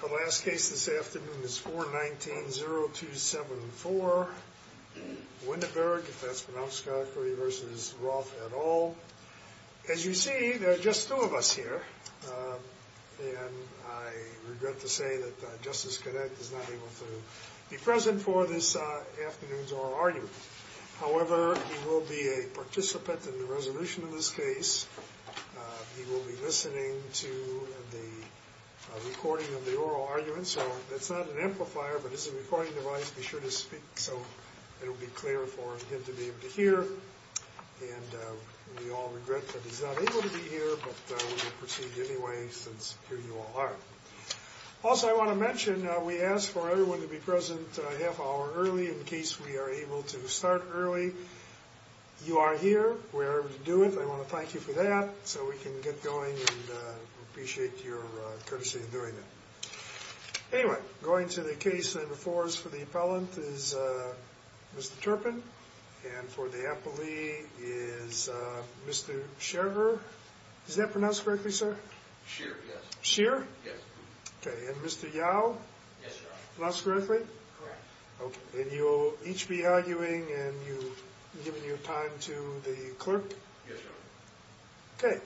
The last case this afternoon is 419-0274, Winneburg, if that's pronounced correctly, v. Roth et al. As you see, there are just two of us here, and I regret to say that Justice Connett is not able to be present for this afternoon's oral argument. However, he will be a participant in the resolution of this case. He will be listening to the recording of the oral argument. So that's not an amplifier, but it's a recording device. Be sure to speak so it will be clear for him to be able to hear. And we all regret that he's not able to be here, but we will proceed anyway since here you all are. Also, I want to mention, we ask for everyone to be present a half hour early in case we are able to start early. You are here. We're able to do it. So I want to thank you for that so we can get going and appreciate your courtesy in doing it. Anyway, going to the case number four for the appellant is Mr. Turpin, and for the appellee is Mr. Sherver. Is that pronounced correctly, sir? Sher, yes. Sher? Yes. Okay, and Mr. Yao? Yes, Your Honor. Pronounced correctly? Correct. Okay, and you'll each be arguing and you've given your time to the clerk? Yes, Your Honor. Okay.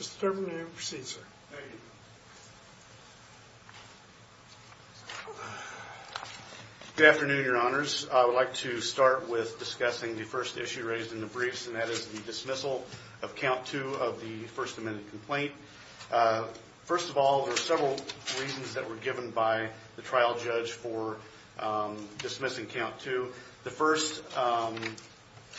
Mr. Turpin, you may proceed, sir. Thank you. Good afternoon, Your Honors. I would like to start with discussing the first issue raised in the briefs, and that is the dismissal of count two of the First Amendment complaint. First of all, there are several reasons that were given by the trial judge for dismissing count two. The first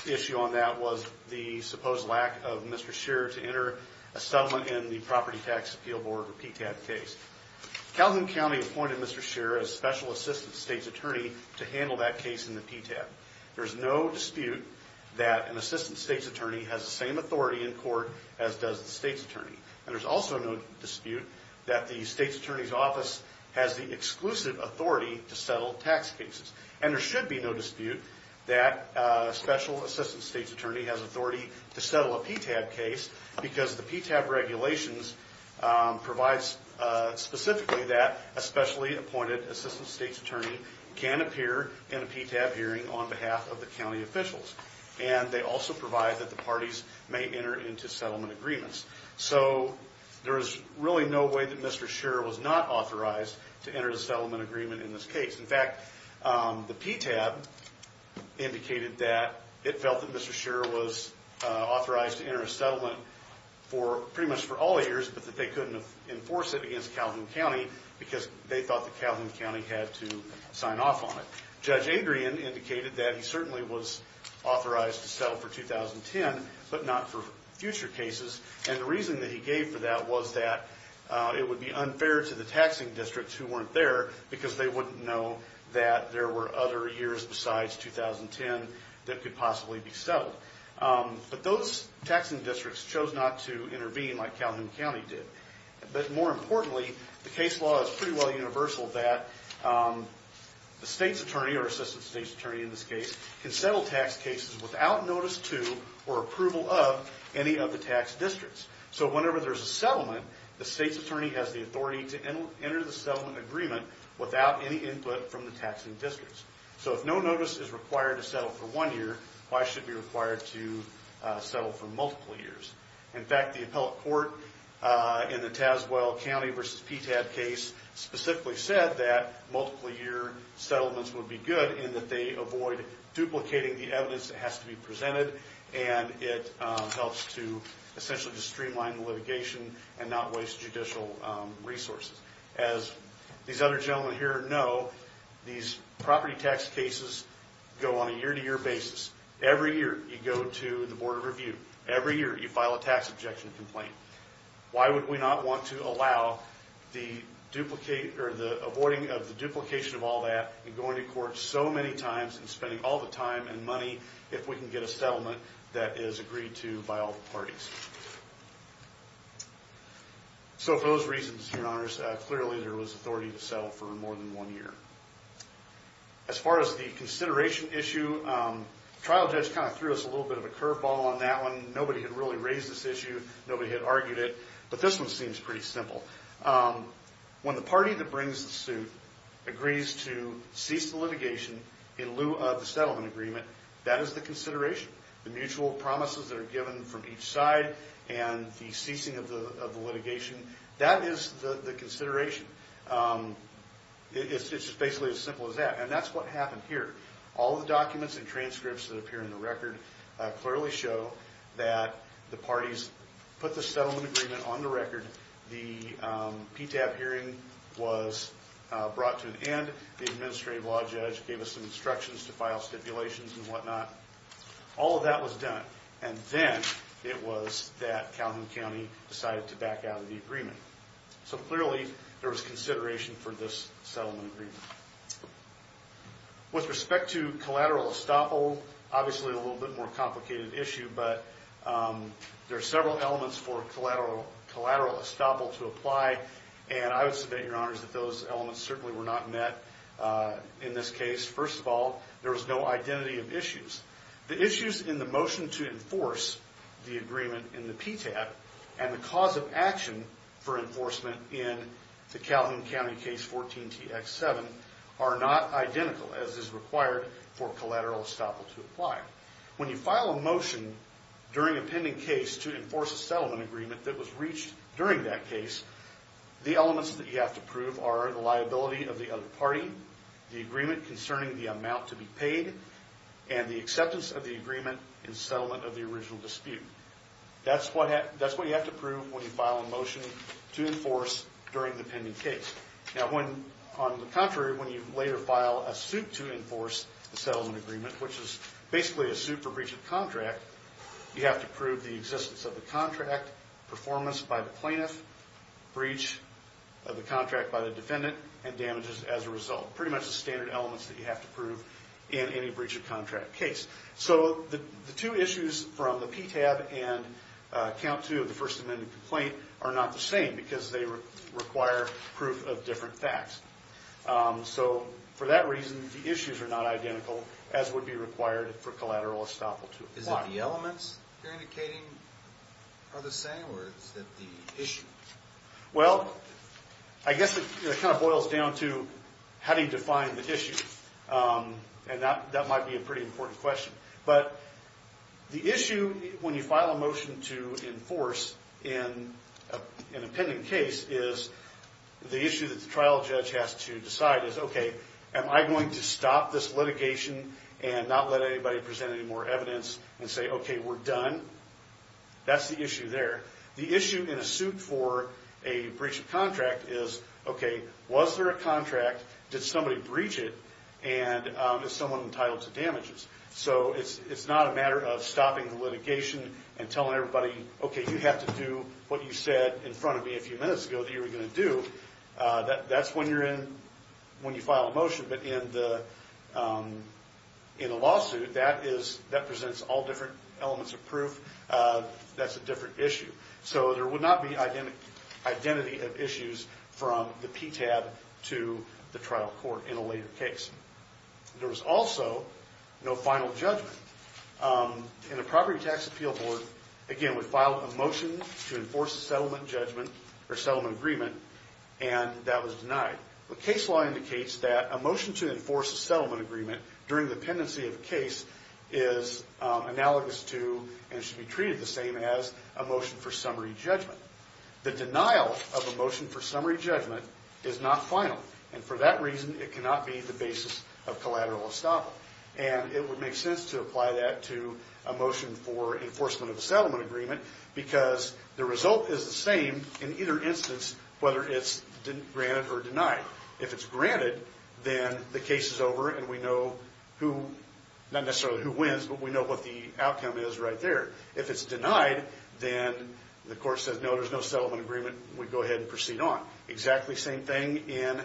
issue on that was the supposed lack of Mr. Sher to enter a settlement in the Property Tax Appeal Board, or PTAB, case. Calhoun County appointed Mr. Sher as Special Assistant State's Attorney to handle that case in the PTAB. There is no dispute that an Assistant State's Attorney has the same authority in court as does the State's Attorney, and there's also no dispute that the State's Attorney's Office has the exclusive authority to settle tax cases. And there should be no dispute that Special Assistant State's Attorney has authority to settle a PTAB case because the PTAB regulations provides specifically that a specially appointed Assistant State's Attorney can appear in a PTAB hearing on behalf of the county officials, and they also provide that the parties may enter into settlement agreements. So there is really no way that Mr. Sher was not authorized to enter a settlement agreement in this case. In fact, the PTAB indicated that it felt that Mr. Sher was authorized to enter a settlement pretty much for all years, but that they couldn't enforce it against Calhoun County because they thought that Calhoun County had to sign off on it. Judge Adrian indicated that he certainly was authorized to settle for 2010, but not for future cases, and the reason that he gave for that was that it would be unfair to the taxing districts who weren't there because they wouldn't know that there were other years besides 2010 that could possibly be settled. But those taxing districts chose not to intervene like Calhoun County did. But more importantly, the case law is pretty well universal that the State's Attorney, or Assistant State's Attorney in this case, can settle tax cases without notice to or approval of any of the tax districts. So whenever there's a settlement, the State's Attorney has the authority to enter the settlement agreement without any input from the taxing districts. So if no notice is required to settle for one year, why should it be required to settle for multiple years? In fact, the appellate court in the Tazewell County v. PTAB case specifically said that multiple-year settlements would be good in that they avoid duplicating the evidence that has to be presented, and it helps to essentially just streamline litigation and not waste judicial resources. As these other gentlemen here know, these property tax cases go on a year-to-year basis. Every year you go to the Board of Review. Every year you file a tax objection complaint. Why would we not want to allow the avoiding of the duplication of all that and going to court so many times and spending all the time and money if we can get a settlement that is agreed to by all the parties? So for those reasons, Your Honors, clearly there was authority to settle for more than one year. As far as the consideration issue, the trial judge kind of threw us a little bit of a curveball on that one. Nobody had really raised this issue. Nobody had argued it. But this one seems pretty simple. When the party that brings the suit agrees to cease the litigation in lieu of the settlement agreement, that is the consideration. The mutual promises that are given from each side and the ceasing of the litigation, that is the consideration. It's basically as simple as that, and that's what happened here. All the documents and transcripts that appear in the record clearly show that the parties put the settlement agreement on the record. The PTAB hearing was brought to an end. The administrative law judge gave us some instructions to file stipulations and whatnot. All of that was done, and then it was that Calhoun County decided to back out of the agreement. So clearly there was consideration for this settlement agreement. With respect to collateral estoppel, obviously a little bit more complicated issue, but there are several elements for collateral estoppel to apply, and I would submit, Your Honors, that those elements certainly were not met in this case. First of all, there was no identity of issues. The issues in the motion to enforce the agreement in the PTAB and the cause of action for enforcement in the Calhoun County Case 14-TX7 When you file a motion during a pending case to enforce a settlement agreement that was reached during that case, the elements that you have to prove are the liability of the other party, the agreement concerning the amount to be paid, and the acceptance of the agreement in settlement of the original dispute. That's what you have to prove when you file a motion to enforce during the pending case. On the contrary, when you later file a suit to enforce the settlement agreement, which is basically a suit for breach of contract, you have to prove the existence of the contract, performance by the plaintiff, breach of the contract by the defendant, and damages as a result. Pretty much the standard elements that you have to prove in any breach of contract case. So the two issues from the PTAB and Count 2 of the First Amendment Complaint are not the same because they require proof of different facts. So for that reason, the issues are not identical, as would be required for collateral estoppel to apply. Is it the elements you're indicating are the same or is it the issue? Well, I guess it kind of boils down to how do you define the issue. And that might be a pretty important question. But the issue when you file a motion to enforce in a pending case is the issue that the trial judge has to decide is, okay, am I going to stop this litigation and not let anybody present any more evidence and say, okay, we're done? That's the issue there. The issue in a suit for a breach of contract is, okay, was there a contract, did somebody breach it, and is someone entitled to damages? So it's not a matter of stopping the litigation and telling everybody, okay, you have to do what you said in front of me a few minutes ago that you were going to do. That's when you file a motion. But in a lawsuit, that presents all different elements of proof. That's a different issue. So there would not be identity of issues from the PTAB to the trial court in a later case. There was also no final judgment. In a property tax appeal board, again, we filed a motion to enforce a settlement judgment or settlement agreement, and that was denied. But case law indicates that a motion to enforce a settlement agreement during the pendency of a case is analogous to and should be treated the same as a motion for summary judgment. The denial of a motion for summary judgment is not final, and for that reason it cannot be the basis of collateral estoppel. And it would make sense to apply that to a motion for enforcement of a settlement agreement because the result is the same in either instance, whether it's granted or denied. If it's granted, then the case is over and we know who, not necessarily who wins, but we know what the outcome is right there. If it's denied, then the court says, no, there's no settlement agreement, and we go ahead and proceed on. Exactly same thing in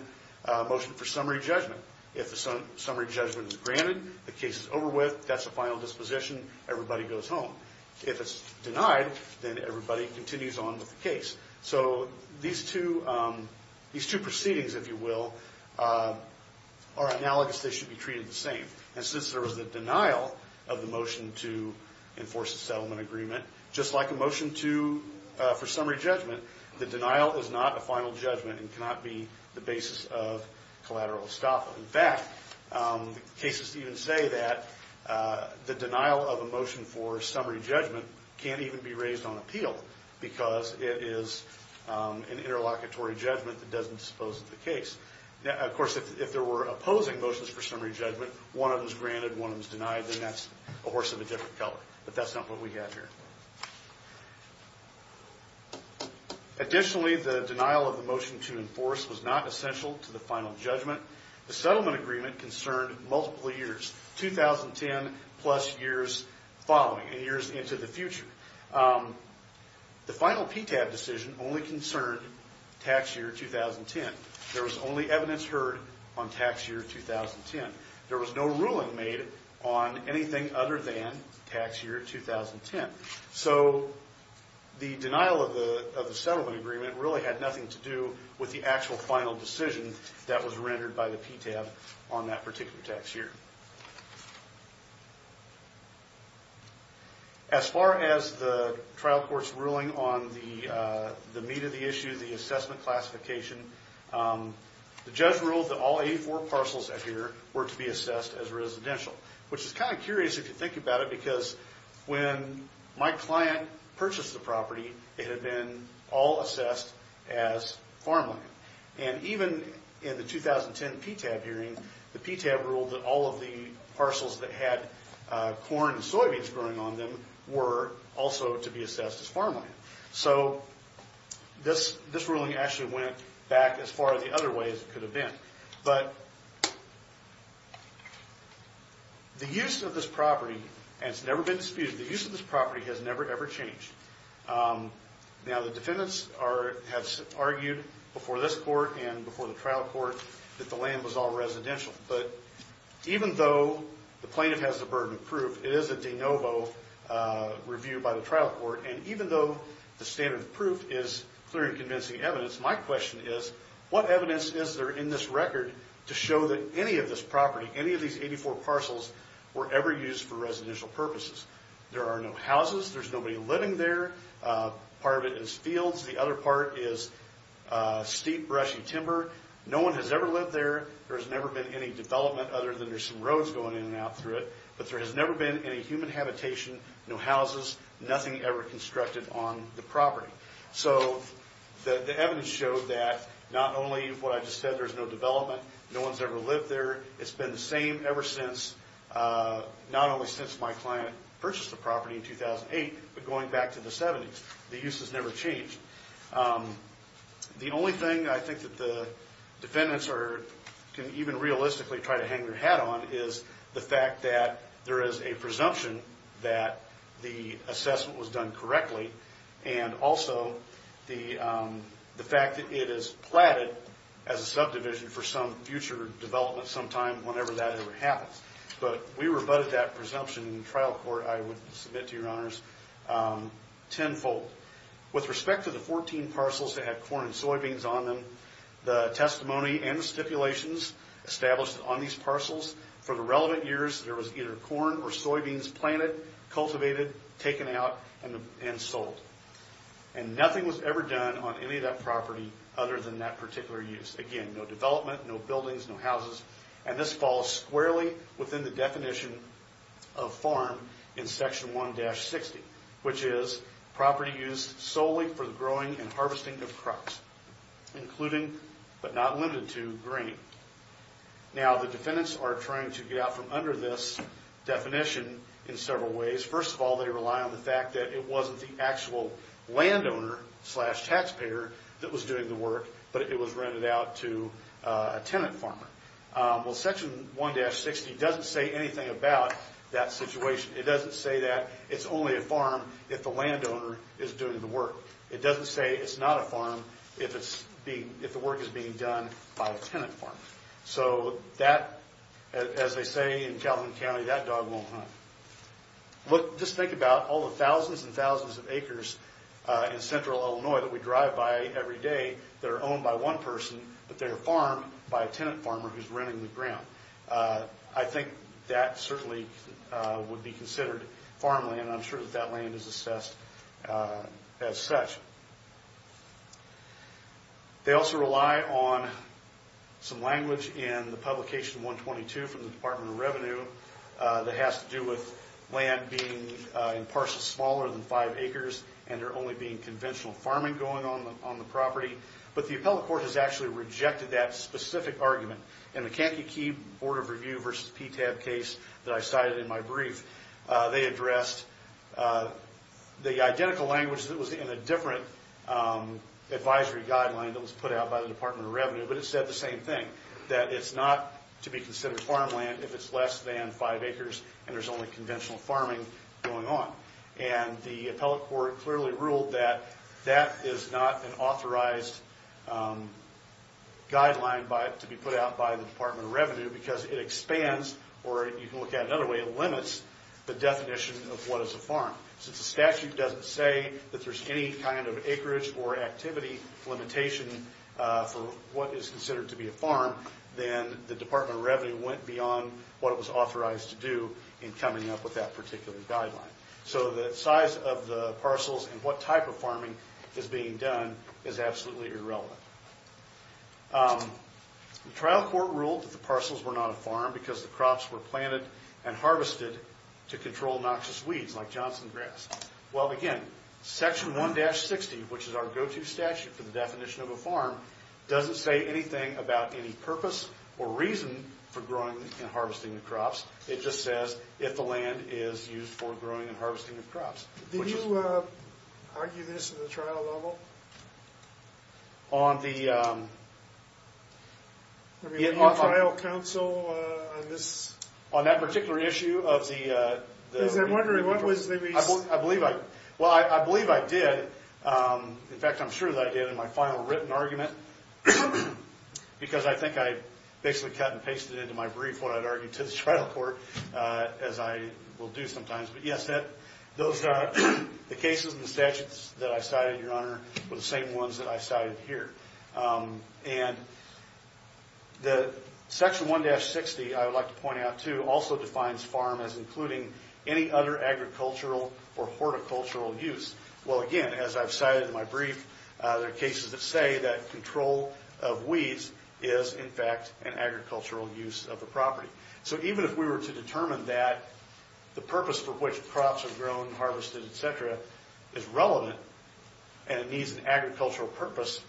a motion for summary judgment. If a summary judgment is granted, the case is over with, that's a final disposition, everybody goes home. If it's denied, then everybody continues on with the case. So these two proceedings, if you will, are analogous. They should be treated the same. And since there was a denial of the motion to enforce a settlement agreement, just like a motion for summary judgment, the denial is not a final judgment and cannot be the basis of collateral estoppel. In fact, cases even say that the denial of a motion for summary judgment can't even be raised on appeal because it is an interlocutory judgment that doesn't dispose of the case. Of course, if there were opposing motions for summary judgment, one of them is granted, one of them is denied, then that's a horse of a different color. But that's not what we have here. Additionally, the denial of the motion to enforce was not essential to the final judgment. The settlement agreement concerned multiple years, 2010 plus years following and years into the future. The final PTAB decision only concerned tax year 2010. There was only evidence heard on tax year 2010. There was no ruling made on anything other than tax year 2010. So the denial of the settlement agreement really had nothing to do with the actual final decision that was rendered by the PTAB on that particular tax year. As far as the trial court's ruling on the meat of the issue, the assessment classification, the judge ruled that all 84 parcels out here were to be assessed as residential, which is kind of curious if you think about it because when my client purchased the property, it had been all assessed as farmland. And even in the 2010 PTAB hearing, the PTAB ruled that all of the parcels that had corn and soybeans growing on them were also to be assessed as farmland. So this ruling actually went back as far the other way as it could have been. But the use of this property, and it's never been disputed, the use of this property has never, ever changed. Now, the defendants have argued before this court and before the trial court that the land was all residential. But even though the plaintiff has the burden of proof, it is a de novo review by the trial court. And even though the standard of proof is clear and convincing evidence, my question is, what evidence is there in this record to show that any of this property, any of these 84 parcels, were ever used for residential purposes? There are no houses. There's nobody living there. Part of it is fields. The other part is steep, brushy timber. No one has ever lived there. There has never been any development other than there's some roads going in and out through it. But there has never been any human habitation, no houses, nothing ever constructed on the property. So the evidence showed that not only what I just said, there's no development, no one's ever lived there, it's been the same ever since not only since my client purchased the property in 2008, but going back to the 70s. The use has never changed. The only thing I think that the defendants can even realistically try to hang their hat on is the fact that there is a presumption that the assessment was done correctly and also the fact that it is platted as a subdivision for some future development sometime, whenever that ever happens. But we rebutted that presumption in trial court, I would submit to your honors, tenfold. With respect to the 14 parcels that had corn and soybeans on them, the testimony and the stipulations established on these parcels for the relevant years that there was either corn or soybeans planted, cultivated, taken out, and sold. And nothing was ever done on any of that property other than that particular use. Again, no development, no buildings, no houses. And this falls squarely within the definition of farm in Section 1-60, which is property used solely for the growing and harvesting of crops, including, but not limited to, grain. Now, the defendants are trying to get out from under this definition in several ways. First of all, they rely on the fact that it wasn't the actual landowner-slash-taxpayer that was doing the work, but it was rented out to a tenant farmer. Well, Section 1-60 doesn't say anything about that situation. It doesn't say that it's only a farm if the landowner is doing the work. It doesn't say it's not a farm if the work is being done by a tenant farmer. So that, as they say in Calvin County, that dog won't hunt. Look, just think about all the thousands and thousands of acres in central Illinois that we drive by every day that are owned by one person, but they are farmed by a tenant farmer who's renting the ground. I think that certainly would be considered farmland, and I'm sure that that land is assessed as such. They also rely on some language in the Publication 122 from the Department of Revenue that has to do with land being in parcel smaller than five acres and there only being conventional farming going on on the property. But the appellate court has actually rejected that specific argument. In the Kankakee Board of Review versus PTAB case that I cited in my brief, they addressed the identical language that was in a different advisory guideline that was put out by the Department of Revenue, but it said the same thing, that it's not to be considered farmland if it's less than five acres and there's only conventional farming going on. And the appellate court clearly ruled that that is not an authorized guideline to be put out by the Department of Revenue because it expands, or you can look at it another way, it limits the definition of what is a farm. Since the statute doesn't say that there's any kind of acreage or activity limitation for what is considered to be a farm, then the Department of Revenue went beyond what it was authorized to do in coming up with that particular guideline. So the size of the parcels and what type of farming is being done is absolutely irrelevant. The trial court ruled that the parcels were not a farm because the crops were planted and harvested to control noxious weeds like Johnson grass. Well, again, Section 1-60, which is our go-to statute for the definition of a farm, doesn't say anything about any purpose or reason for growing and harvesting the crops. It just says if the land is used for growing and harvesting the crops. Did you argue this in the trial level? On the trial council? On that particular issue of the— Because I'm wondering what was the reason. Well, I believe I did. In fact, I'm sure that I did in my final written argument because I think I basically cut and pasted into my brief what I'd argued to the trial court, as I will do sometimes. But, yes, those are the cases and the statutes that I cited, Your Honor, were the same ones that I cited here. And the Section 1-60, I would like to point out, too, also defines farm as including any other agricultural or horticultural use. Well, again, as I've cited in my brief, there are cases that say that control of weeds is, in fact, an agricultural use of the property. So even if we were to determine that the purpose for which crops are grown, harvested, et cetera, is relevant and it needs an agricultural purpose,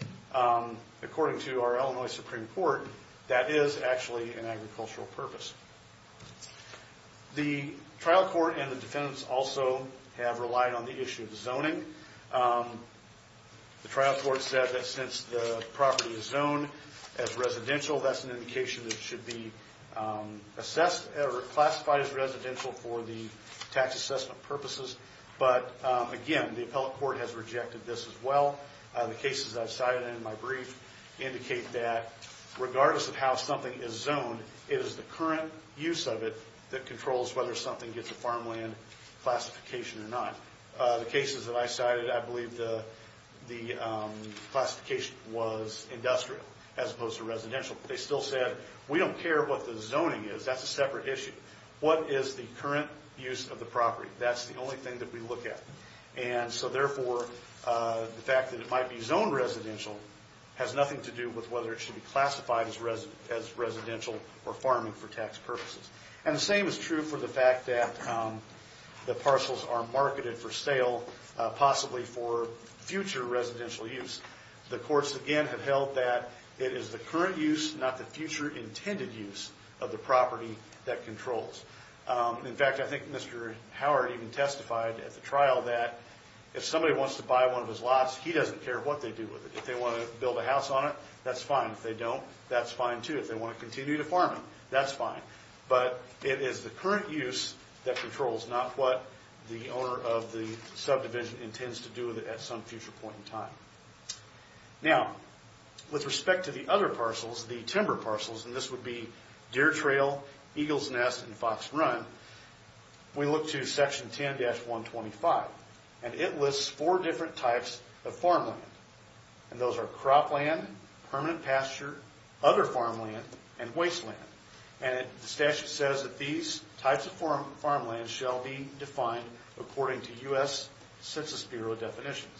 according to our Illinois Supreme Court, that is actually an agricultural purpose. The trial court and the defendants also have relied on the issue of zoning. The trial court said that since the property is zoned as residential, that's an indication that it should be assessed or classified as residential for the tax assessment purposes. But, again, the appellate court has rejected this as well. The cases I've cited in my brief indicate that regardless of how something is zoned, it is the current use of it that controls whether something gets a farmland classification or not. The cases that I cited, I believe the classification was industrial as opposed to residential. They still said, we don't care what the zoning is. That's a separate issue. What is the current use of the property? That's the only thing that we look at. And so, therefore, the fact that it might be zoned residential has nothing to do with whether it should be classified as residential or farming for tax purposes. And the same is true for the fact that the parcels are marketed for sale, possibly for future residential use. The courts, again, have held that it is the current use, not the future intended use, of the property that controls. In fact, I think Mr. Howard even testified at the trial that if somebody wants to buy one of his lots, he doesn't care what they do with it. If they want to build a house on it, that's fine. If they don't, that's fine, too. If they want to continue to farm it, that's fine. But it is the current use that controls, not what the owner of the subdivision intends to do with it at some future point in time. Now, with respect to the other parcels, the timber parcels, and this would be Deer Trail, Eagle's Nest, and Fox Run, we look to Section 10-125, and it lists four different types of farmland. And those are cropland, permanent pasture, other farmland, and wasteland. And the statute says that these types of farmland shall be defined according to U.S. Census Bureau definitions.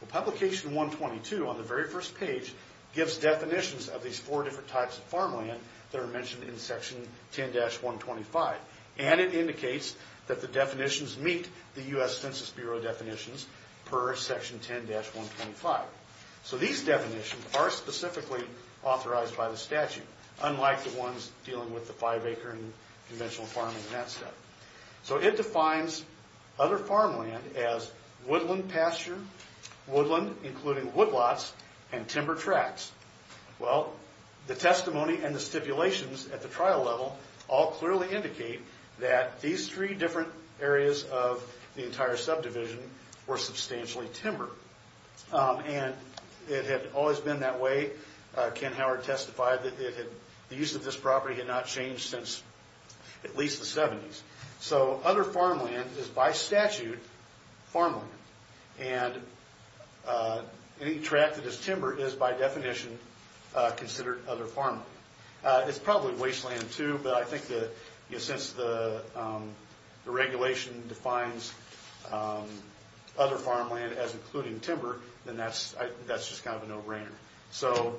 Well, Publication 122, on the very first page, gives definitions of these four different types of farmland that are mentioned in Section 10-125. And it indicates that the definitions meet the U.S. Census Bureau definitions per Section 10-125. So these definitions are specifically authorized by the statute, unlike the ones dealing with the five-acre and conventional farming and that stuff. So it defines other farmland as woodland pasture, woodland, including woodlots, and timber tracks. Well, the testimony and the stipulations at the trial level all clearly indicate that these three different areas of the entire subdivision were substantially timber. And it had always been that way. Ken Howard testified that the use of this property had not changed since at least the 70s. So other farmland is by statute farmland. And any track that is timber is by definition considered other farmland. It's probably wasteland too, but I think that since the regulation defines other farmland as including timber, then that's just kind of a no-brainer. So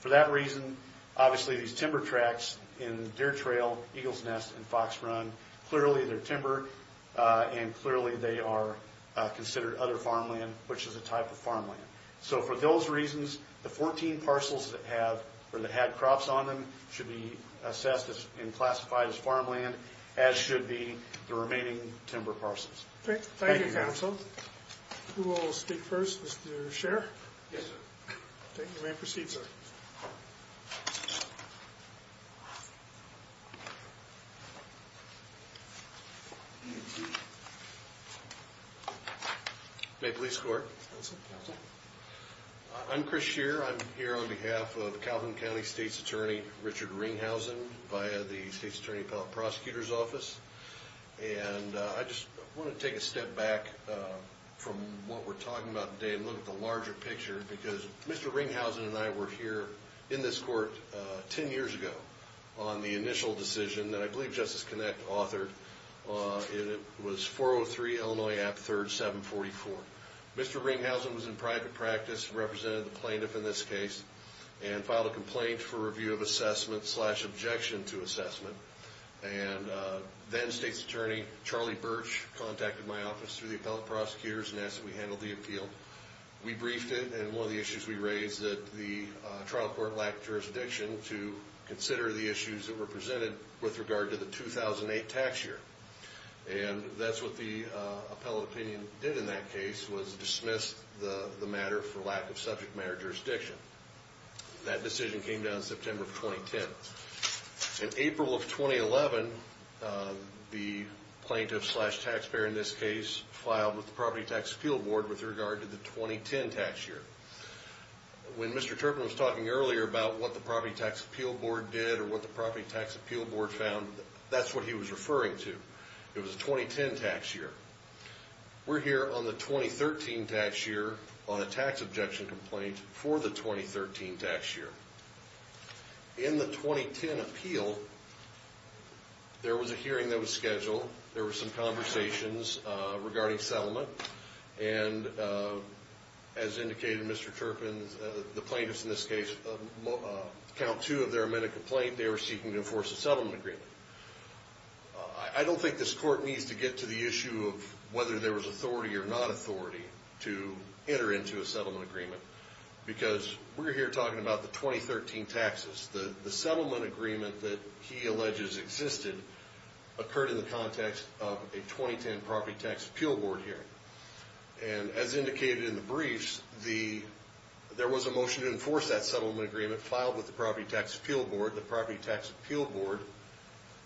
for that reason, obviously these timber tracks in Deer Trail, Eagles Nest, and Fox Run, clearly they're timber, and clearly they are considered other farmland, which is a type of farmland. So for those reasons, the 14 parcels that had crops on them should be assessed and classified as farmland, as should be the remaining timber parcels. Thank you, counsel. Who will speak first, Mr. Scherr? Yes, sir. Then you may proceed, sir. Maple Leafs Court. I'm Chris Scherr. I'm here on behalf of Calvin County State's Attorney, Richard Ringhausen, And I just want to take a step back from what we're talking about today and look at the larger picture because Mr. Ringhausen and I were here in this court 10 years ago on the initial decision that I believe Justice Connect authored. It was 403 Illinois App 3rd 744. Mr. Ringhausen was in private practice, represented the plaintiff in this case, and filed a complaint for review of assessment slash objection to assessment. And then State's Attorney, Charlie Birch, contacted my office through the appellate prosecutors and asked that we handle the appeal. We briefed it, and one of the issues we raised is that the trial court lacked jurisdiction to consider the issues that were presented with regard to the 2008 tax year. And that's what the appellate opinion did in that case, was dismiss the matter for lack of subject matter jurisdiction. That decision came down in September of 2010. In April of 2011, the plaintiff slash taxpayer in this case filed with the Property Tax Appeal Board with regard to the 2010 tax year. When Mr. Turpin was talking earlier about what the Property Tax Appeal Board did or what the Property Tax Appeal Board found, that's what he was referring to. It was the 2010 tax year. We're here on the 2013 tax year on a tax objection complaint for the 2013 tax year. In the 2010 appeal, there was a hearing that was scheduled. There were some conversations regarding settlement. And as indicated, Mr. Turpin, the plaintiffs in this case, count two of their amended complaint, they were seeking to enforce a settlement agreement. I don't think this court needs to get to the issue of whether there was authority or not authority to enter into a settlement agreement because we're here talking about the 2013 taxes. The settlement agreement that he alleges existed occurred in the context of a 2010 Property Tax Appeal Board hearing. And as indicated in the briefs, there was a motion to enforce that settlement agreement filed with the Property Tax Appeal Board. The Property Tax Appeal Board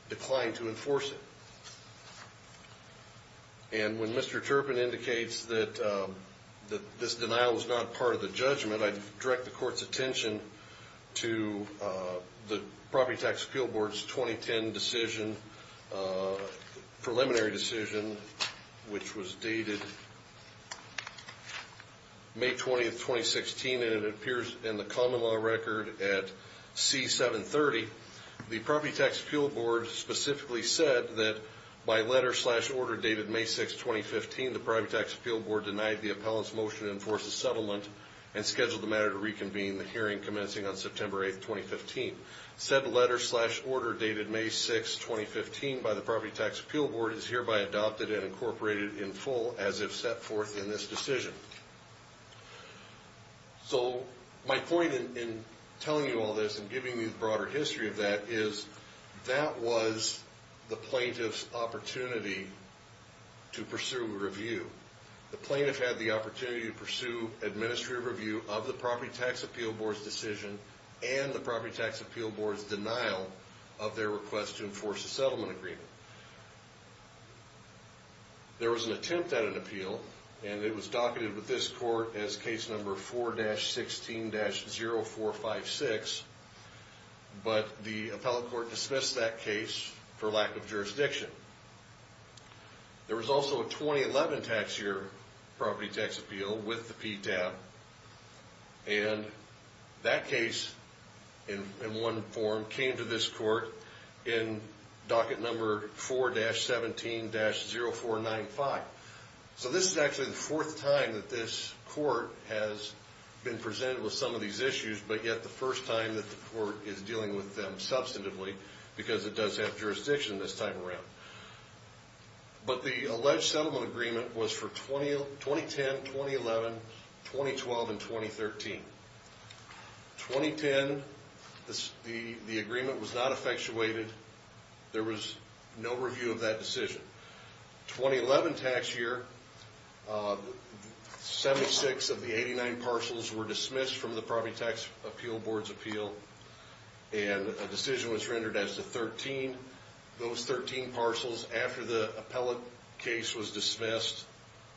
declined to enforce it. And when Mr. Turpin indicates that this denial was not part of the judgment, I direct the court's attention to the Property Tax Appeal Board's 2010 decision, preliminary decision, which was dated May 20th, 2016, and it appears in the common law record at C730. The Property Tax Appeal Board specifically said that by letter slash order dated May 6th, 2015, the Property Tax Appeal Board denied the appellant's motion to enforce a settlement and scheduled the matter to reconvene, the hearing commencing on September 8th, 2015. Said letter slash order dated May 6th, 2015, by the Property Tax Appeal Board, is hereby adopted and incorporated in full as if set forth in this decision. So my point in telling you all this and giving you the broader history of that is that was the plaintiff's opportunity to pursue review. The plaintiff had the opportunity to pursue administrative review of the Property Tax Appeal Board's decision and the Property Tax Appeal Board's denial of their request to enforce a settlement agreement. There was an attempt at an appeal, and it was docketed with this court as case number 4-16-0456, but the appellate court dismissed that case for lack of jurisdiction. There was also a 2011 tax year Property Tax Appeal with the PTAB, and that case in one form came to this court in docket number 4-17-0495. So this is actually the fourth time that this court has been presented with some of these issues, but yet the first time that the court is dealing with them substantively, because it does have jurisdiction this time around. But the alleged settlement agreement was for 2010, 2011, 2012, and 2013. 2010, the agreement was not effectuated. There was no review of that decision. 2011 tax year, 76 of the 89 parcels were dismissed from the Property Tax Appeal Board's appeal, and a decision was rendered as to 13. Those 13 parcels, after the appellate case was dismissed,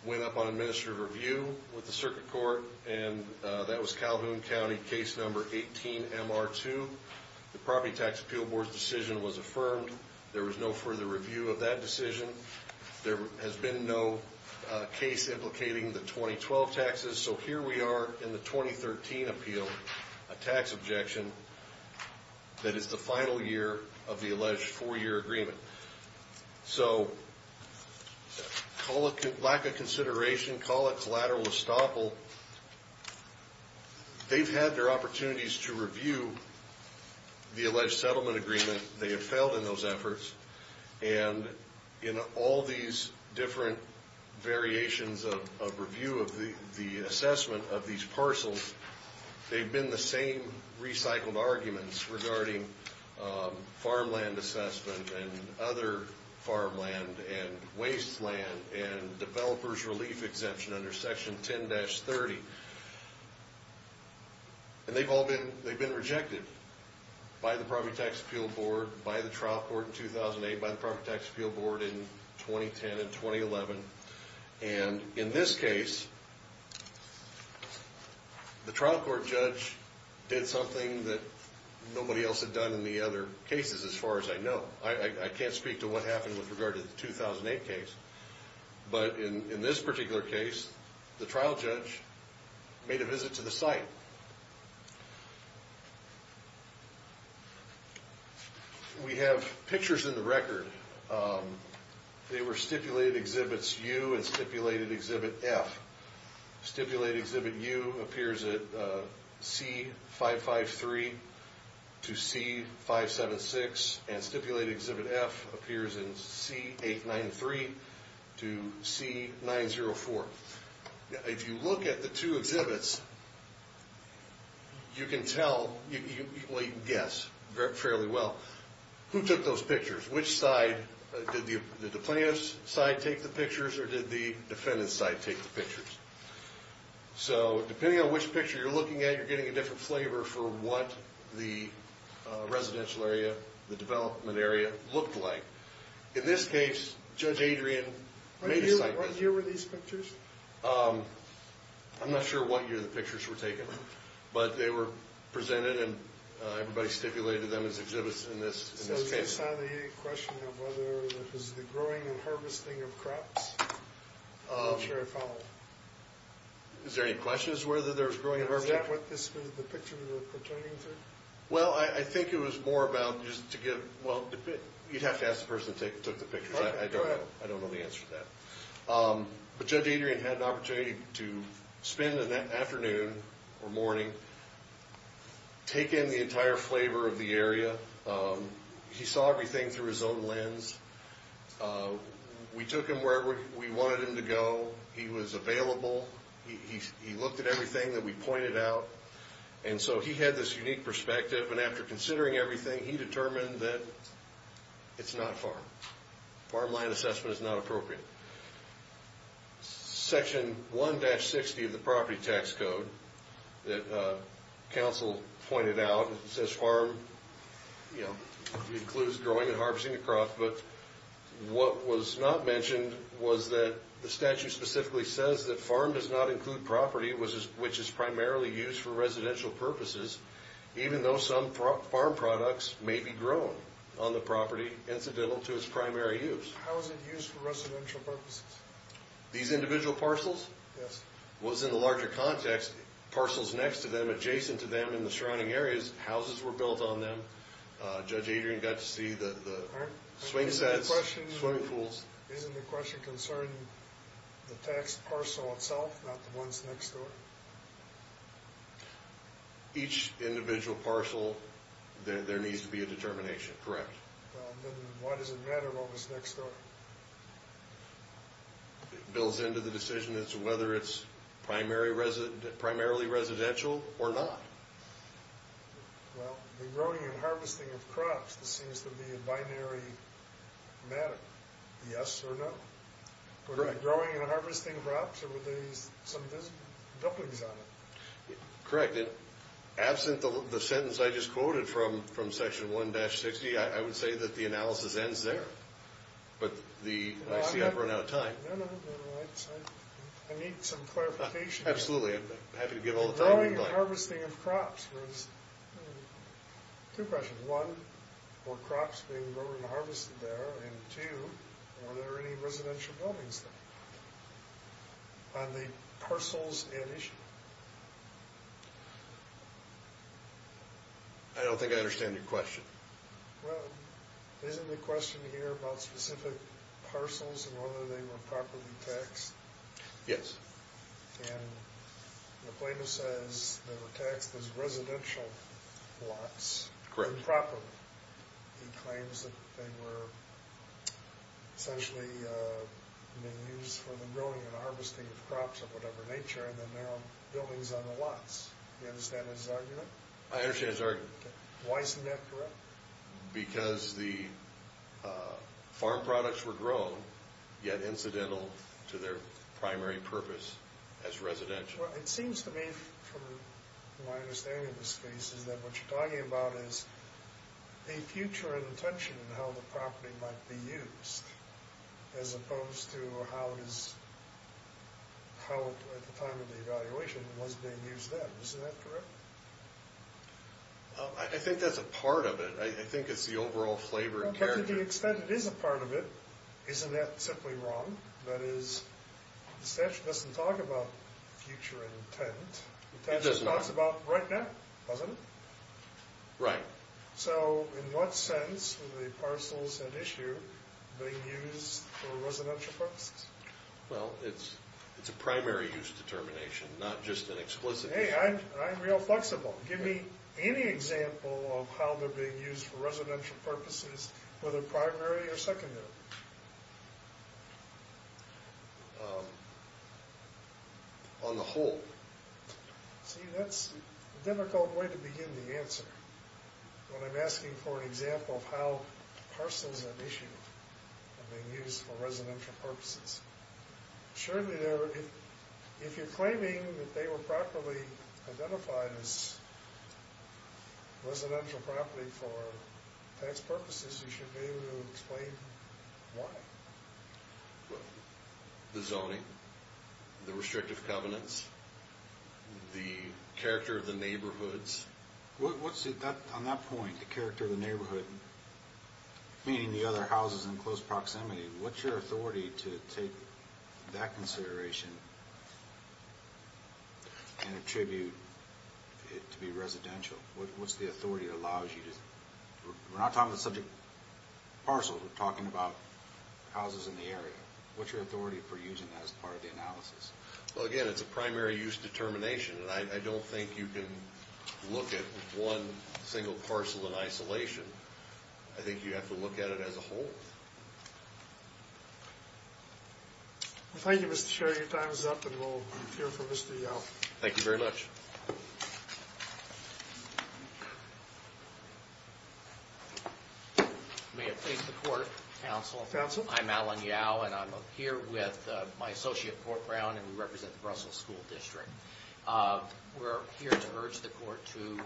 went up on administrative review with the circuit court, and that was Calhoun County, case number 18-MR2. The Property Tax Appeal Board's decision was affirmed. There was no further review of that decision. There has been no case implicating the 2012 taxes, so here we are in the 2013 appeal, a tax objection that is the final year of the alleged four-year agreement. So lack of consideration, call it collateral estoppel. They've had their opportunities to review the alleged settlement agreement. They have failed in those efforts. And in all these different variations of review of the assessment of these parcels, they've been the same recycled arguments regarding farmland assessment and other farmland and wasteland and developers' relief exemption under Section 10-30. And they've all been rejected by the Property Tax Appeal Board, by the trial court in 2008, by the Property Tax Appeal Board in 2010 and 2011. And in this case, the trial court judge did something that nobody else had done in the other cases as far as I know. I can't speak to what happened with regard to the 2008 case. But in this particular case, the trial judge made a visit to the site. We have pictures in the record. They were stipulated exhibits U and stipulated exhibit F. Stipulated exhibit U appears at C-553 to C-576. And stipulated exhibit F appears in C-893 to C-904. If you look at the two exhibits, you can guess fairly well who took those pictures. Which side, did the plaintiff's side take the pictures or did the defendant's side take the pictures? So depending on which picture you're looking at, you're getting a different flavor for what the residential area, the development area looked like. In this case, Judge Adrian made a site visit. What year were these pictures? I'm not sure what year the pictures were taken. But they were presented and everybody stipulated them as exhibits in this case. So is this out of the question of whether it was the growing and harvesting of crops? I'm not sure I follow. Is there any question as to whether there was growing and harvesting? Is that what this was the picture we were pertaining to? Well, I think it was more about just to give, well, you'd have to ask the person who took the picture. I don't know the answer to that. But Judge Adrian had an opportunity to spend an afternoon or morning taking the entire flavor of the area. He saw everything through his own lens. We took him wherever we wanted him to go. He was available. He looked at everything that we pointed out. And so he had this unique perspective. And after considering everything, he determined that it's not farm. Farmland assessment is not appropriate. Section 1-60 of the property tax code that counsel pointed out, it says farm includes growing and harvesting a crop. But what was not mentioned was that the statute specifically says that farm does not include property which is primarily used for residential purposes, even though some farm products may be grown on the property incidental to its primary use. How is it used for residential purposes? These individual parcels? Yes. Well, it's in the larger context. Parcels next to them, adjacent to them, in the surrounding areas, houses were built on them. Judge Adrian got to see the swing sets, swimming pools. Isn't the question concerning the tax parcel itself, not the ones next door? Each individual parcel, there needs to be a determination. Correct. Well, then why does it matter what was next door? It builds into the decision as to whether it's primarily residential or not. Well, the growing and harvesting of crops, this seems to be a binary matter. Yes or no? Correct. Were they growing and harvesting crops or were they some dumplings on it? Correct. Absent the sentence I just quoted from Section 1-60, I would say that the analysis ends there. But I see I've run out of time. No, no. I need some clarification. Absolutely. I'm happy to give all the time you'd like. The growing and harvesting of crops. There's two questions. One, were crops being grown and harvested there? And two, were there any residential buildings there on the parcels in issue? I don't think I understand your question. Well, isn't the question here about specific parcels and whether they were properly taxed? Yes. And the claimant says they were taxed as residential lots. Correct. Improperly. He claims that they were essentially being used for the growing and harvesting of crops of whatever nature and that there are buildings on the lots. Do you understand his argument? I understand his argument. Why isn't that correct? Because the farm products were grown, yet incidental to their primary purpose as residential. It seems to me, from my understanding of this case, is that what you're talking about is a future intention in how the property might be used as opposed to how, at the time of the evaluation, it was being used then. Isn't that correct? I think that's a part of it. I think it's the overall flavor and character. But to the extent it is a part of it, isn't that simply wrong? That is, the statute doesn't talk about future intent. It doesn't. The statute talks about right now, doesn't it? Right. So, in what sense were the parcels at issue being used for residential purposes? Well, it's a primary use determination, not just an explicit use determination. Hey, I'm real flexible. Give me any example of how they're being used for residential purposes, whether primary or secondary. On the whole. See, that's a difficult way to begin the answer when I'm asking for an example of how parcels at issue are being used for residential purposes. Surely, if you're claiming that they were properly identified as residential property for tax purposes, you should be able to explain why. The zoning, the restrictive covenants, the character of the neighborhoods. On that point, the character of the neighborhood, meaning the other houses in close proximity, what's your authority to take that consideration and attribute it to be residential? What's the authority that allows you to... We're not talking about subject parcels. We're talking about houses in the area. What's your authority for using that as part of the analysis? Well, again, it's a primary use determination, and I don't think you can look at one single parcel in isolation. I think you have to look at it as a whole. Thank you, Mr. Chair. Your time is up, and we'll hear from Mr. Yelp. Thank you very much. May it please the Court, Counsel. Counsel. I'm Alan Yelp, and I'm here with my associate, Port Brown, and we represent the Brussels School District. We're here to urge the Court to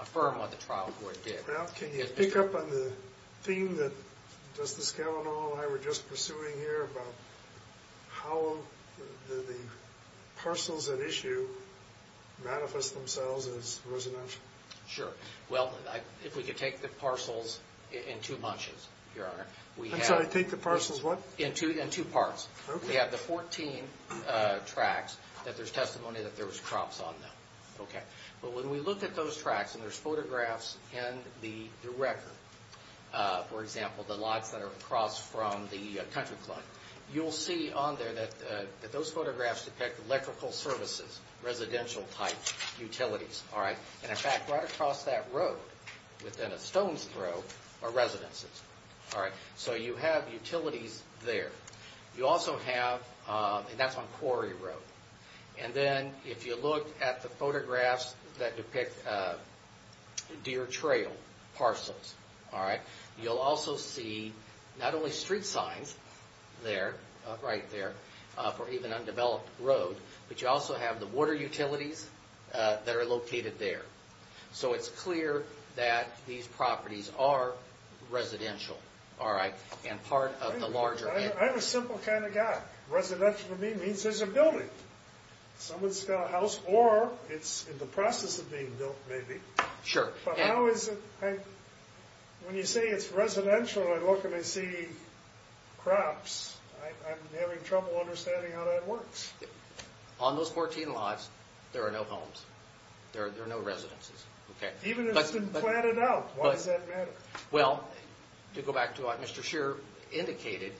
affirm what the trial court did. Ralph, can you pick up on the theme that Justice Kavanaugh and I were just pursuing here about how the parcels at issue manifest themselves as residential? Sure. Well, if we could take the parcels in two bunches, Your Honor. I'm sorry, take the parcels what? In two parts. Okay. We have the 14 tracts that there's testimony that there was crops on them. Okay. But when we look at those tracts and there's photographs in the record, for example, the lots that are across from the country club, residential-type utilities, all right? And, in fact, right across that road within a stone's throw are residences. All right? So you have utilities there. You also have, and that's on Quarry Road. And then if you look at the photographs that depict deer trail parcels, all right, you'll also see not only street signs there, right there, for even undeveloped road, but you also have the water utilities that are located there. So it's clear that these properties are residential, all right, and part of the larger. I'm a simple kind of guy. Residential to me means there's a building. Someone's got a house or it's in the process of being built, maybe. Sure. But how is it, when you say it's residential and I look and I see crops, I'm having trouble understanding how that works. On those 14 lots, there are no homes. There are no residences. Even if it's been planted out, why does that matter? Well, to go back to what Mr. Scheer indicated,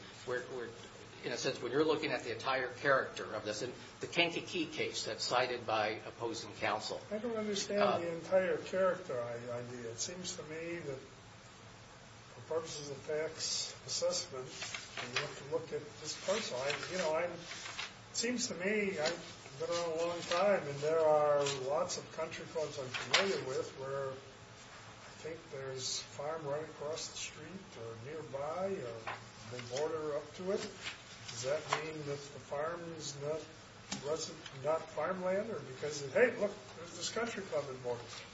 in a sense when you're looking at the entire character of this, the Kankakee case that's cited by opposing counsel. I don't understand the entire character. It seems to me that for purposes of facts assessment, you have to look at this person. You know, it seems to me I've been around a long time and there are lots of country clubs I'm familiar with where I think there's a farm right across the street or nearby or the border up to it. Does that mean that the farm is not farmland?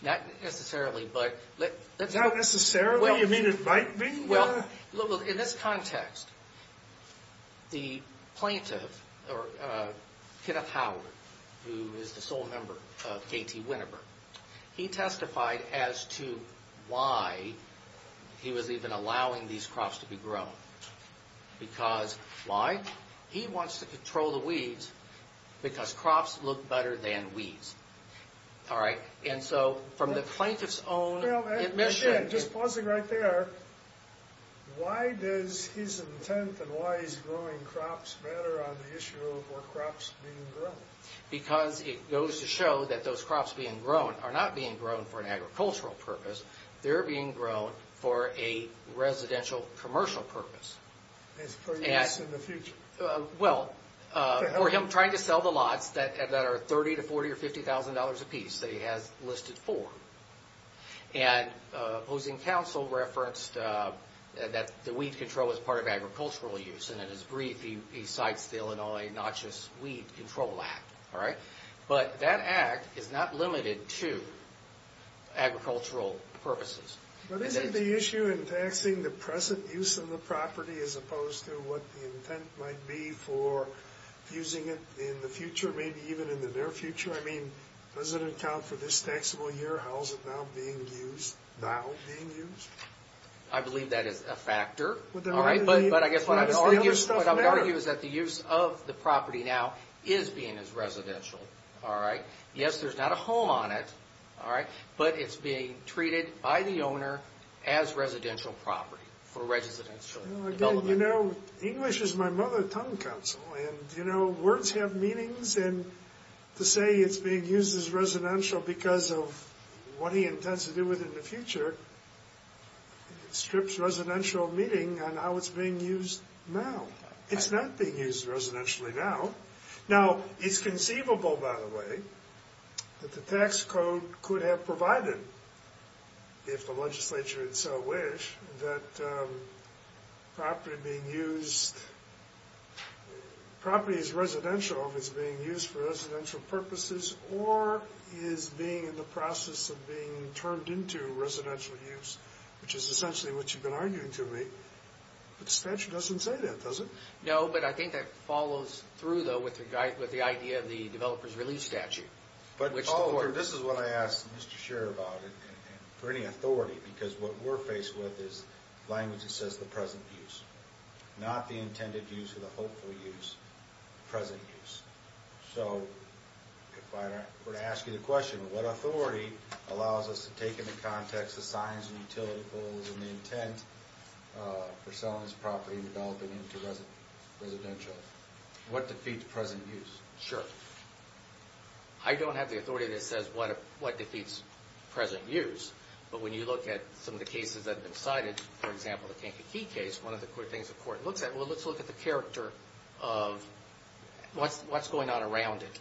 Not necessarily. Not necessarily? You mean it might be? Well, in this context, the plaintiff, Kenneth Howard, who is the sole member of KT Winterberg, he testified as to why he was even allowing these crops to be grown. Because why? He wants to control the weeds because crops look better than weeds. All right? And so from the plaintiff's own admission... Just pausing right there, why does his intent and why he's growing crops matter on the issue of crops being grown? Because it goes to show that those crops being grown are not being grown for an agricultural purpose. They're being grown for a residential commercial purpose. For use in the future. Well, for him trying to sell the lots that are $30,000 to $40,000 or $50,000 apiece that he has listed for. And opposing counsel referenced that the weed control is part of agricultural use. And in his brief, he cites the Illinois Notchess Weed Control Act. All right? But that act is not limited to agricultural purposes. But isn't the issue in taxing the present use of the property as opposed to what the intent might be for using it in the future, maybe even in the near future? I mean, does it account for this taxable year? How is it now being used? I believe that is a factor. All right? But I guess what I would argue is that the use of the property now is being as residential. All right? Yes, there's not a home on it. All right? But it's being treated by the owner as residential property for residential development. You know, English is my mother tongue, counsel. And, you know, words have meanings. And to say it's being used as residential because of what he intends to do with it in the future strips residential meeting on how it's being used now. It's not being used residentially now. Now, it's conceivable, by the way, that the tax code could have provided, if the legislature had so wished, that property being used, property is residential if it's being used for residential purposes or is being in the process of being turned into residential use, which is essentially what you've been arguing to me. But the statute doesn't say that, does it? No, but I think that follows through, though, with the idea of the developer's release statute. But this is what I asked Mr. Scherer about it and for any authority because what we're faced with is language that says the present use, not the intended use or the hopeful use, present use. So if I were to ask you the question, what authority allows us to take into context the signs and utility goals and the intent for selling this property and developing it into residential? What defeats present use? Sure. I don't have the authority that says what defeats present use, but when you look at some of the cases that have been cited, for example, the Kankakee case, one of the things the court looks at, well, let's look at the character of what's going on around it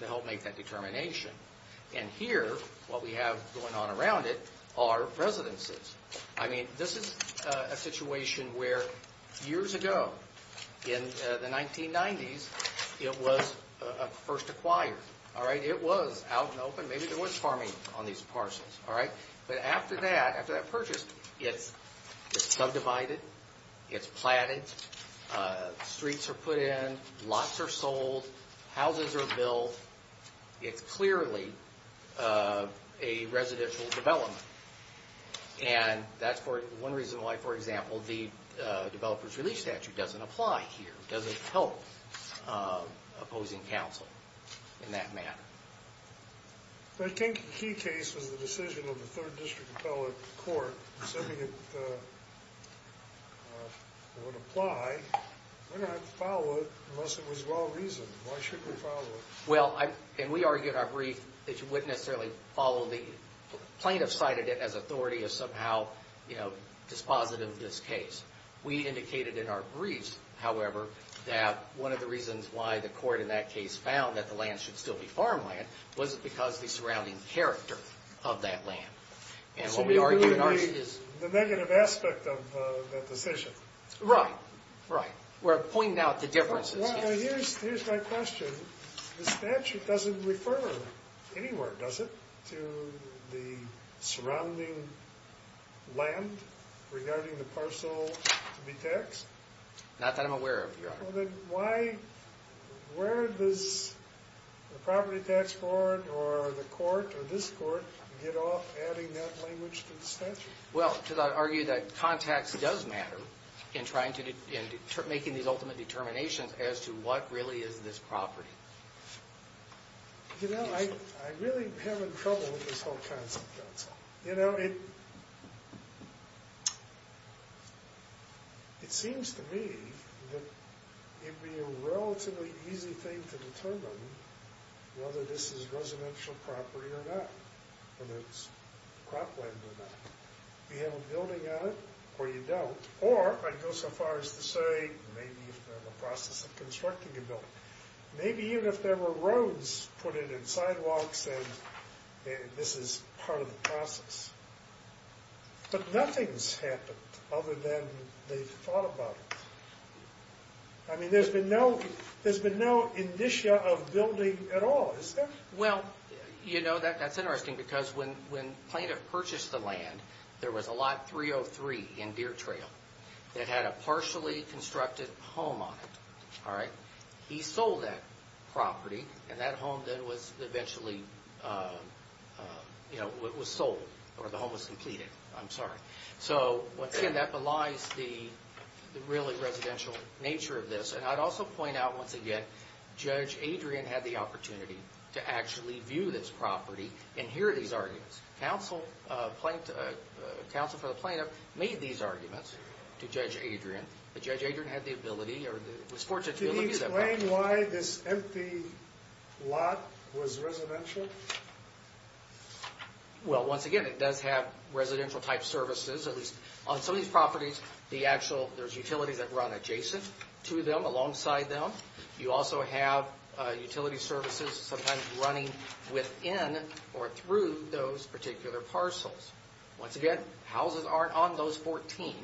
to help make that determination. And here, what we have going on around it are residences. I mean, this is a situation where years ago, in the 1990s, it was first acquired. It was out and open. Maybe there was farming on these parcels. But after that, after that purchase, it's subdivided. It's platted. Streets are put in. Lots are sold. Houses are built. It's clearly a residential development. And that's one reason why, for example, the developer's relief statute doesn't apply here, doesn't help opposing counsel in that matter. The Kankakee case was the decision of the 3rd District Appellate Court. They said it would apply. We're going to have to follow it unless it was well-reasoned. Why shouldn't we follow it? Well, and we argued in our brief that you wouldn't necessarily follow the plaintiff's side of it as authority of somehow dispositive of this case. We indicated in our briefs, however, that one of the reasons why the court in that case found that the land should still be farmland was because of the surrounding character of that land. And what we argue in our case is the negative aspect of that decision. Right, right. We're pointing out the differences here. Here's my question. The statute doesn't refer anywhere, does it, to the surrounding land regarding the parcel to be taxed? Not that I'm aware of, Your Honor. Then why, where does the property tax board or the court or this court get off adding that language to the statute? Well, to argue that context does matter in trying to, in making these ultimate determinations as to what really is this property. You know, I really am in trouble with this whole concept, counsel. You know, it seems to me that it would be a relatively easy thing to determine whether this is residential property or not, whether it's cropland or not. You have a building on it or you don't. Or I'd go so far as to say maybe if they're in the process of constructing a building. Maybe even if there were roads put in and sidewalks and this is part of the process. But nothing's happened other than they've thought about it. I mean, there's been no indicia of building at all, is there? Well, you know, that's interesting because when plaintiff purchased the land, there was a lot 303 in Deer Trail that had a partially constructed home on it. All right? He sold that property and that home then was eventually, you know, was sold or the home was completed. I'm sorry. So, once again, that belies the really residential nature of this. And I'd also point out, once again, Judge Adrian had the opportunity to actually view this property and hear these arguments. Counsel for the plaintiff made these arguments to Judge Adrian. But Judge Adrian had the ability or was fortunate to be able to use that property. Can you explain why this empty lot was residential? Well, once again, it does have residential type services. At least on some of these properties, there's utilities that run adjacent to them, alongside them. You also have utility services sometimes running within or through those particular parcels. Once again, houses aren't on those 14,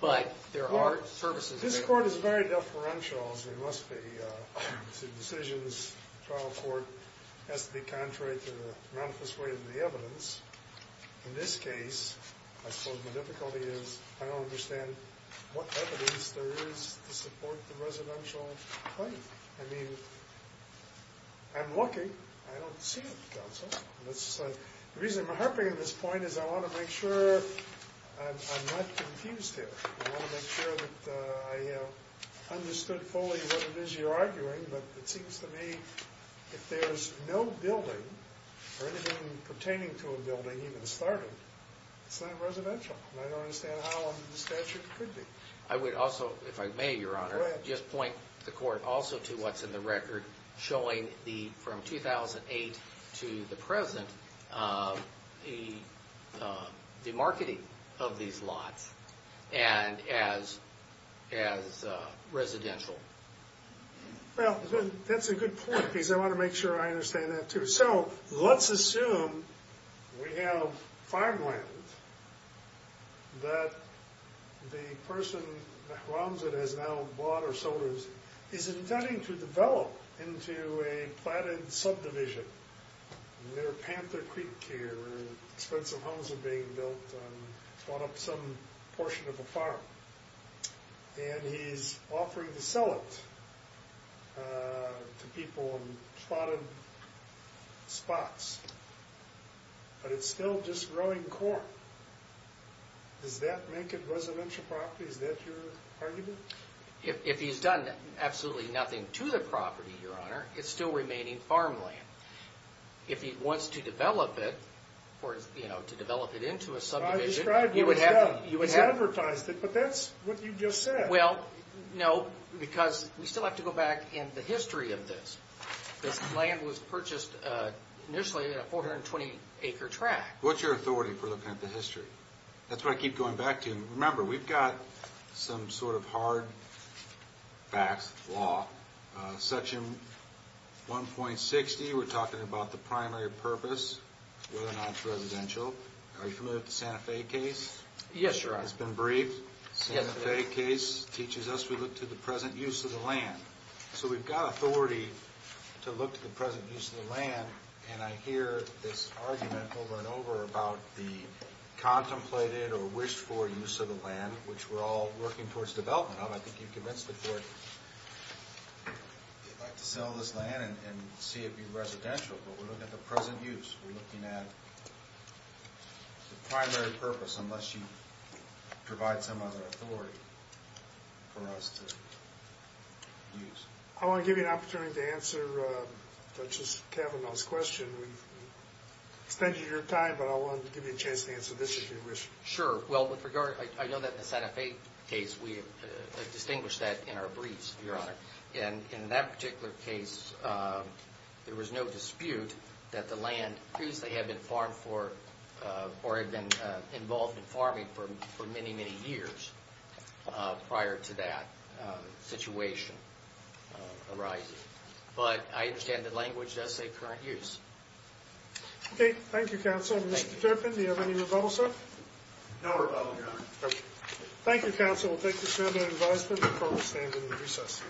but there are services. This court is very deferential, as they must be. The decisions, the trial court has to be contrary to the manifest way of the evidence. In this case, I suppose the difficulty is I don't understand what evidence there is to support the residential claim. I mean, I'm looking. I don't see it, counsel. The reason I'm harping on this point is I want to make sure I'm not confused here. I want to make sure that I understood fully what it is you're arguing. But it seems to me if there's no building or anything pertaining to a building even started, it's not residential. And I don't understand how under the statute it could be. I would also, if I may, Your Honor, just point the court also to what's in the record, showing from 2008 to the present, the marketing of these lots as residential. Well, that's a good point, because I want to make sure I understand that, too. So, let's assume we have farmland that the person, Mahramzad, has now bought or sold, is intending to develop into a platted subdivision near Panther Creek here, where expensive homes are being built on, bought up some portion of a farm. And he's offering to sell it to people in platted spots. But it's still just growing corn. Does that make it residential property? Is that your argument? If he's done absolutely nothing to the property, Your Honor, it's still remaining farmland. If he wants to develop it into a subdivision... I described what he's done. He's advertised it, but that's what you just said. Well, no, because we still have to go back in the history of this. This land was purchased initially in a 420-acre tract. What's your authority for looking at the history? That's what I keep going back to. Remember, we've got some sort of hard facts, law. Section 1.60, we're talking about the primary purpose, whether or not it's residential. Are you familiar with the Santa Fe case? Yes, Your Honor. It's been briefed. The Santa Fe case teaches us we look to the present use of the land. So we've got authority to look to the present use of the land, and I hear this argument over and over about the contemplated or wished-for use of the land, which we're all working towards development of. I think you've convinced the court they'd like to sell this land and see it be residential. But we're looking at the present use. We're looking at the primary purpose, unless you provide some other authority for us to use. I want to give you an opportunity to answer Justice Kavanaugh's question. We've extended your time, but I wanted to give you a chance to answer this if you wish. Sure. Well, with regard, I know that the Santa Fe case, we have distinguished that in our briefs, Your Honor. In that particular case, there was no dispute that the land previously had been farmed for or had been involved in farming for many, many years prior to that situation arising. But I understand that language does say current use. Okay. Thank you, counsel. Mr. Turpin, do you have any rebuttal, sir? No rebuttal, Your Honor. Thank you, counsel. We'll take this round of advisement. The court will stand in the recess.